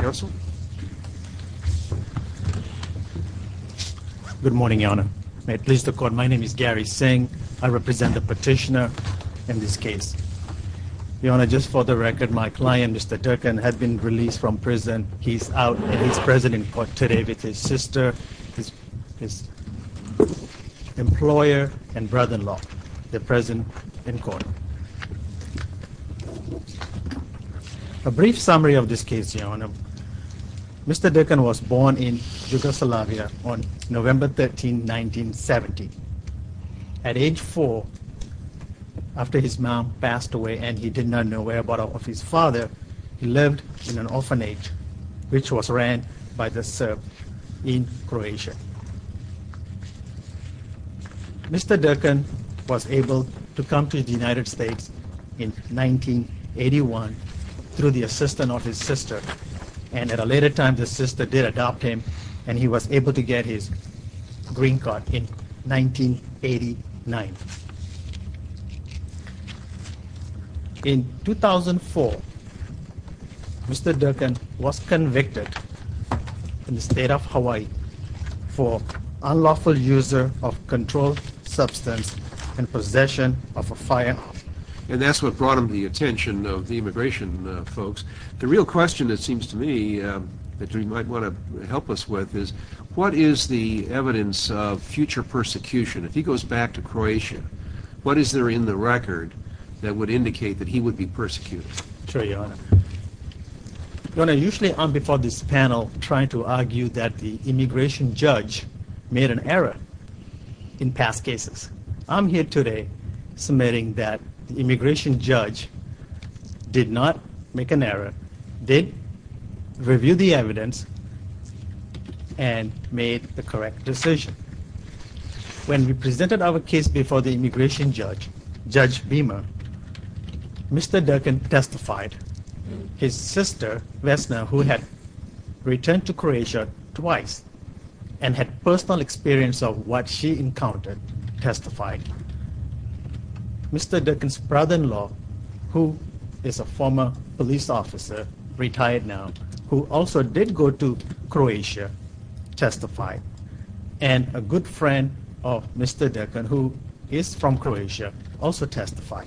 Good morning, Your Honor. May it please the Court, my name is Gary Singh. I represent the petitioner in this case. Your Honor, just for the record, my client, Mr. Durkin, has been released from prison. He's out and he's present in court today with his sister, his Mr. Durkin was born in Yugoslavia on November 13, 1970. At age four, after his mom passed away and he did not know whereabouts of his father, he lived in an orphanage, which was ran by the Serbs in Croatia. Mr. Durkin was able to come to the United States in 1981 through the assistance of his sister. And at a later time, the sister did adopt him and he was able to get his green card in 1989. In 2004, Mr. Durkin was convicted in the state of Hawaii for unlawful use of controlled substance and possession of a firearm. And that's what attention of the immigration folks. The real question, it seems to me, that you might want to help us with is, what is the evidence of future persecution? If he goes back to Croatia, what is there in the record that would indicate that he would be persecuted? Sure, Your Honor. Your Honor, usually I'm before this panel trying to argue that the immigration judge did not make an error. They reviewed the evidence and made the correct decision. When we presented our case before the immigration judge, Judge Beamer, Mr. Durkin testified. His sister, Vesna, who had returned to Croatia twice and had personal experience of what she encountered, testified. Mr. Durkin's brother-in-law, who is a former police officer, retired now, who also did go to Croatia, testified. And a good friend of Mr. Durkin, who is from Croatia, also testified.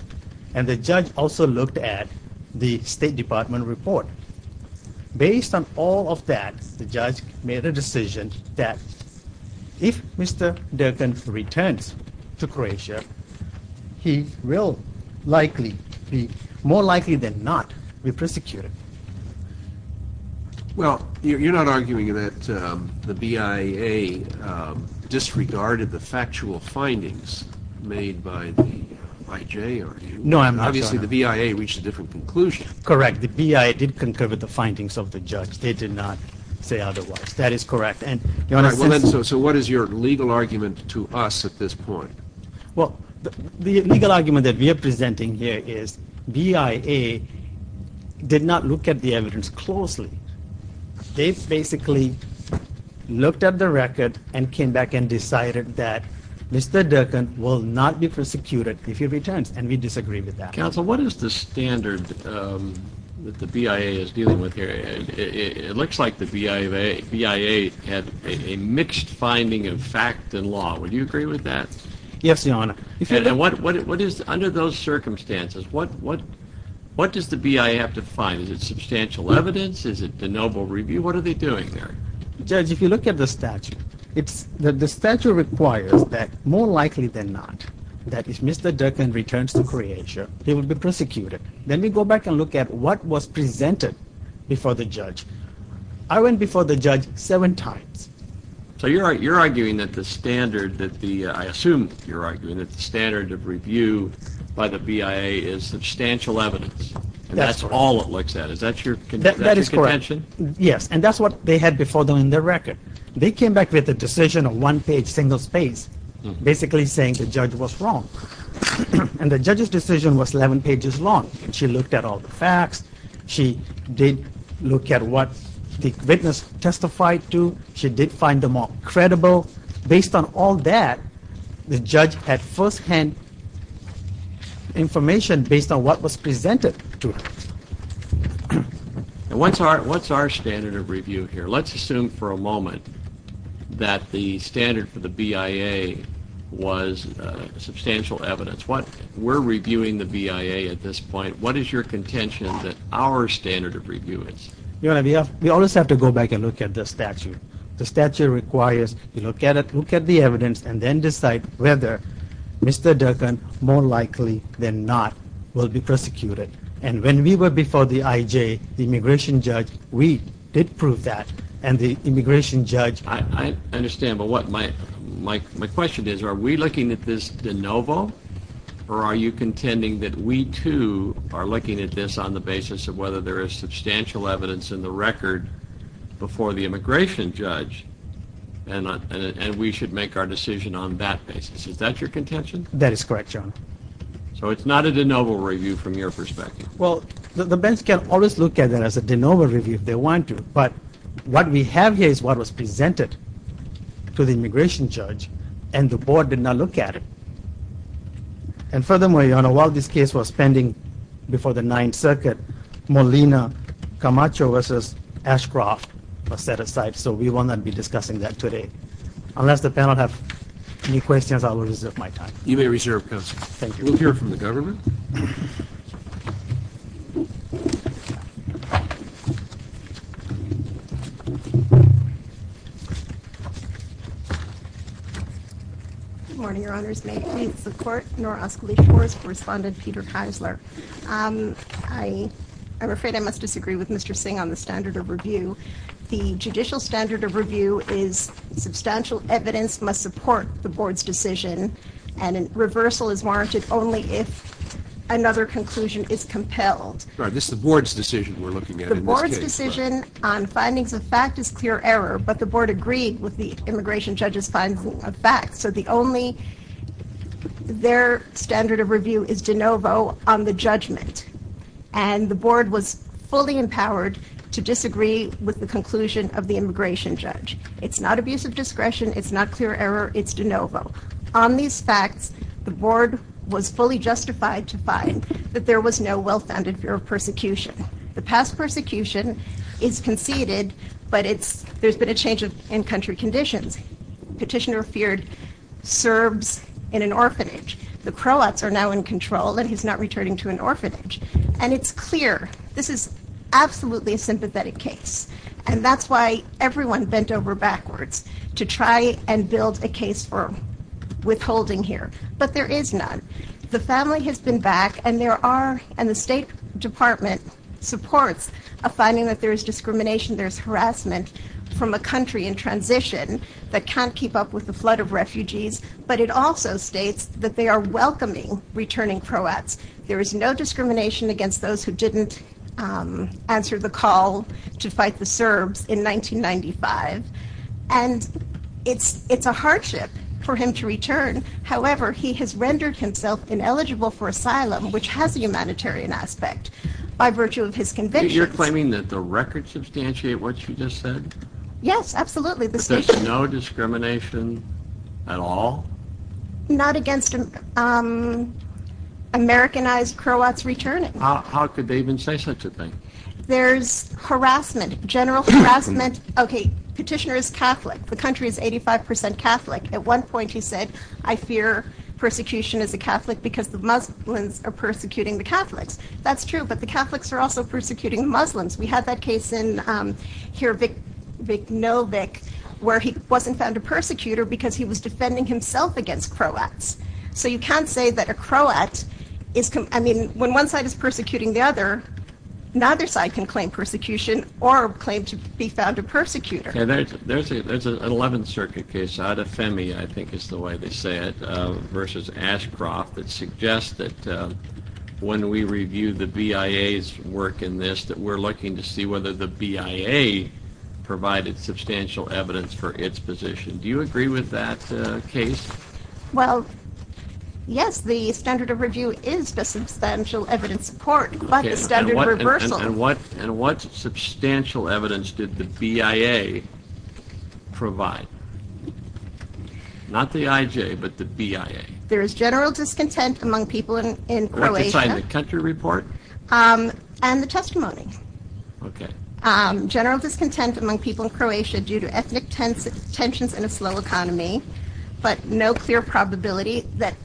And the judge also looked at the State Department report. Based on all of that, the judge made a difference to Croatia. He will likely be, more likely than not, be persecuted. Well, you're not arguing that the BIA disregarded the factual findings made by the IJ, are you? No, I'm not, Your Honor. Obviously, the BIA reached a different conclusion. Correct. The BIA did concur with the findings of the judge. They did not say otherwise. That is correct. So what is your legal argument to us at this point? Well, the legal argument that we are presenting here is BIA did not look at the evidence closely. They basically looked at the record and came back and decided that Mr. Durkin will not be persecuted if he returns, and we disagree with that. Counsel, what is the standard that the BIA is dealing with here? It looks like the BIA had a mixed finding of fact and law. Would you agree with that? Yes, Your Honor. Under those circumstances, what does the BIA have to find? Is it substantial evidence? Is it the noble review? What are they doing there? Judge, if you look at the statute, the statute requires that, more likely than not, that if Mr. Durkin returns to Croatia, he will be prosecuted. Then we go back and look at what was presented before the judge. I went before the judge seven times. So you're arguing that the standard that the, I assume you're arguing that the standard of review by the BIA is substantial evidence. That's all it looks at. Is that your contention? Yes, and that's what they had before them in their record. They came back with a decision of one page, single space, basically saying the judge was wrong. And the judge's decision was 11 pages long, and she looked at all the facts. She did look at what the witness testified to. She did find them all credible. Based on all that, the judge had firsthand information based on what was presented to her. What's our standard of review here? Let's assume for a moment that the standard for the BIA was substantial evidence. We're reviewing the BIA at this point. What is your contention that our standard of review is? You know, we always have to go back and look at the statute. The statute requires you look at it, look at the evidence, and then decide whether Mr. Durkin, more likely than not, will be prosecuted. And when we were before the IJ, the immigration judge, we did prove that. And the immigration judge... I understand, but my question is, are we looking at this de novo, or are you contending that we, too, are looking at this on the basis of whether there is substantial evidence in the record before the immigration judge, and we should make our decision on that basis? Is that your contention? That is correct, John. So it's not a de novo review from your perspective? Well, the bench can always look at it as a de novo review if they want to. But what we have here is what was presented to the immigration judge, and the board did not look at it. And furthermore, Your Honor, while this case was pending before the Ninth Circuit, Molina Camacho v. Ashcroft was set aside. So we will not be discussing that today. Unless the panel have any questions, I will reserve my time. You may reserve, Counselor. Thank you. We'll hear from the government. Good morning, Your Honors. May it please the Court, Norah Ascoli-Schwartz, Correspondent Peter Keisler. I'm afraid I must disagree with Mr. Singh on the standard of review. The judicial standard of review is substantial evidence must support the board's decision, and a reversal is warranted only if another conclusion is compelled. Sorry, this is the board's decision we're looking at in this case. The board's decision on findings of fact is clear error, but the board agreed with the immigration judge's finding of fact. So the only, their standard of review is de novo on the judgment. And the board was fully empowered to disagree with the conclusion of the immigration judge. It's not abuse of discretion, it's not clear error, it's de novo. On these facts, the board was fully justified to find that there was no well-founded fear of persecution. The past persecution is conceded, but there's been a change in country conditions. Petitioner feared Serbs in an orphanage. The Croats are now in control and he's not returning to an orphanage. And it's clear, this is absolutely a sympathetic case. And that's why everyone bent over backwards to try and build a case for withholding here. But there is none. The family has been back and there are, and the State Department supports, a finding that there is discrimination, there's harassment from a country in transition that can't keep up with the flood of refugees. But it also states that they are welcoming returning Croats. There is no discrimination against those who didn't answer the call to fight the Serbs in 1995. And it's a hardship for him to return. However, he has rendered himself ineligible for asylum, which has a humanitarian aspect by virtue of his conviction. You're claiming that the records substantiate what you just said? Yes, absolutely. But there's no discrimination at all? Not against Americanized Croats returning. How could they even say such a thing? There's harassment, general harassment. Okay, petitioner is Catholic. The country is 85% Catholic. At one point, he said, I fear persecution as a Catholic because the Muslims are persecuting the Catholics. That's true. But the Catholics are also persecuting Muslims. We have that case in here, Vick Novick, where he wasn't found a persecutor because he was defending himself against Croats. So you can't say that a Croat is, I mean, when one side is persecuting the other, neither side can claim persecution or claim to be found a persecutor. There's an 11th Circuit case, Adefemi, I think is the way they say it, versus Ashcroft, that suggests that when we review the BIA's work in this, that we're looking to see whether the BIA provided substantial evidence for its position. Do you agree with that case? Well, yes, the standard of review is the substantial evidence support, but the standard reversal... And what substantial evidence did the BIA provide? Not the IJ, but the BIA. There is general discontent among people in Croatia. What, to sign the country report? And the testimony. Okay. General discontent among people in Croatia due to ethnic tensions in a slow economy, but no clear probability that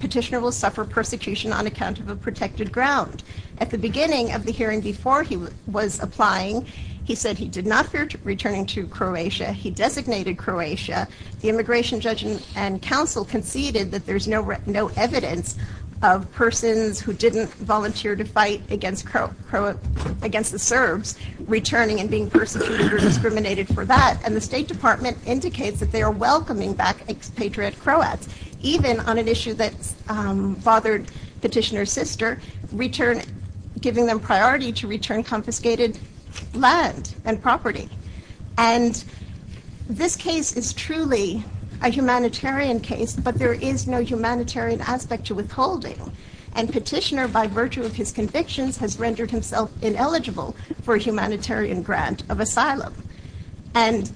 petitioner will suffer persecution on account of a protected ground. At the beginning of the hearing before he was applying, he said he did not fear returning to Croatia. He designated Croatia. The immigration judge and counsel conceded that there's no evidence of persons who didn't volunteer to fight against the Serbs returning and being persecuted or discriminated for that. And the State Department indicates that they are welcoming back expatriate Croats, even on an issue that bothered petitioner's sister, giving them priority to return confiscated land and property. And this case is truly a humanitarian case, but there is no humanitarian aspect to withholding. And petitioner, by virtue of his convictions, has rendered himself ineligible for a humanitarian grant of asylum. And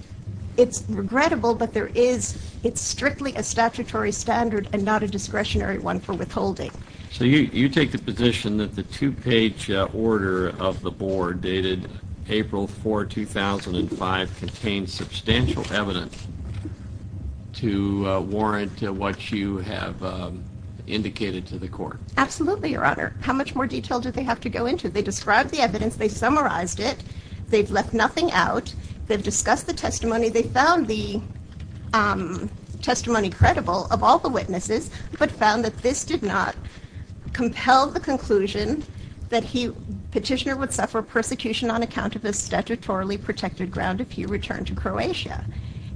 it's regrettable, but there is, it's strictly a statutory standard and not a discretionary one for withholding. So you take the position that the two-page order of the board dated April 4, 2005, contains substantial evidence to warrant what you have indicated to the court? Absolutely, Your Honor. How much more detail do they have to go into? They described the evidence. They summarized it. They've left nothing out. They've discussed the testimony. They found the testimony credible of all the witnesses, but found that this did not compel the conclusion that he, petitioner would suffer persecution on account of his statutorily protected ground if he returned to Croatia.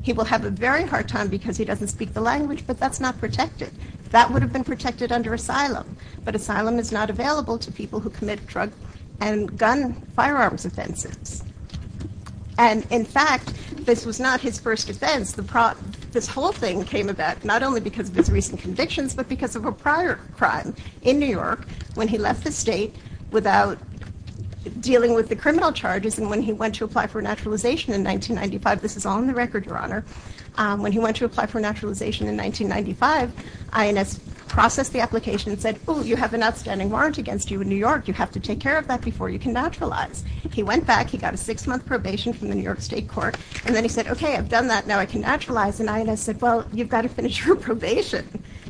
He will have a very hard time because he doesn't speak the language, but that's not protected. That would have been protected under asylum, but asylum is not available to people who commit drug and gun firearms offenses. And in fact, this was not his first offense. This whole thing came about not only because of his recent convictions, but because of a prior crime in New York when he left the state without dealing with the criminal charges. And when he went to apply for naturalization in 1995, this is on the record, Your Honor. When he went to apply for naturalization in 1995, INS processed the application and said, oh, you have an outstanding warrant against you in New York. You have to take care of that before you can naturalize. He went back. He got a six-month probation from the New York State Court. And then he said, okay, I've done that. Now I can naturalize. And INS said, well, you've got to finish your probation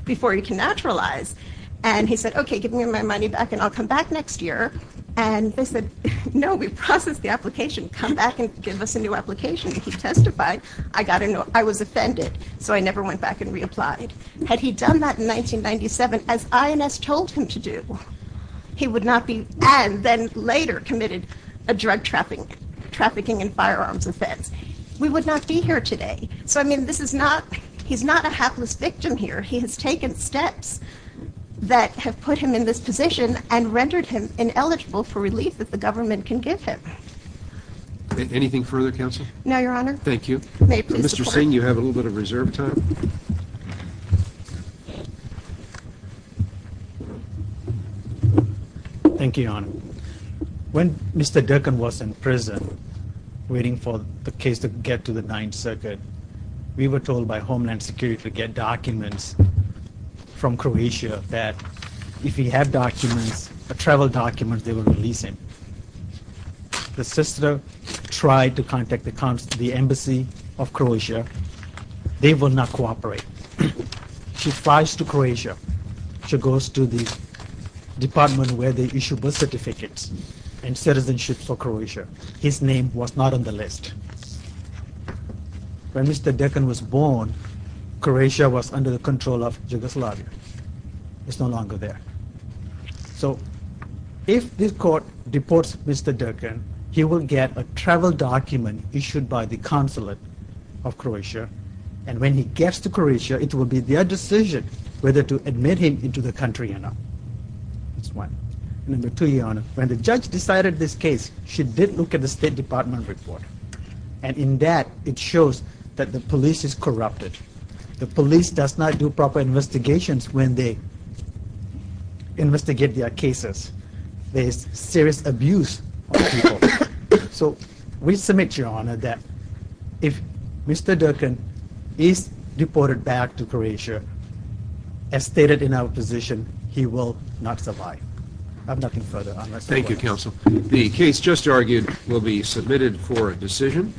before you can naturalize. And he said, okay, give me my money back and I'll come back next year. And they said, no, we processed the application. Come back and give us a new application. And he testified, I was offended. So I never went back and reapplied. Had he done that in 1997, as INS told him to do, he would not be and then later committed a drug trafficking and firearms offense. We would not be here today. So, I mean, this is not, he's not a hapless victim here. He has taken steps that have put him in this position and rendered him ineligible for relief that the government can give him. Anything further, counsel? No, Your Honor. Thank you. Mr. Singh, you have a little bit of reserve time. Thank you, Your Honor. When Mr. Durkan was in prison, waiting for the case to get to the Ninth Circuit, we were told by Homeland Security to get documents from Croatia that if he had documents, travel documents, they will release him. The sister tried to contact the embassy of Croatia. They will not cooperate. She flies to Croatia. She goes to the department where they issue birth certificates and citizenship for Croatia. His name was not on the list. When Mr. Durkan was born, Croatia was under the control of Yugoslavia. It's no longer there. So if this court deports Mr. Durkan, and when he gets to Croatia, it will be their decision whether to admit him into the country or not. That's one. Number two, Your Honor, when the judge decided this case, she did look at the State Department report. And in that, it shows that the police is corrupted. The police does not do proper investigations when they investigate their cases. There is serious abuse of people. So we submit, Your Honor, that if Mr. Durkan is deported back to Croatia, as stated in our position, he will not survive. I have nothing further. Thank you, Counsel. The case just argued will be submitted for a decision.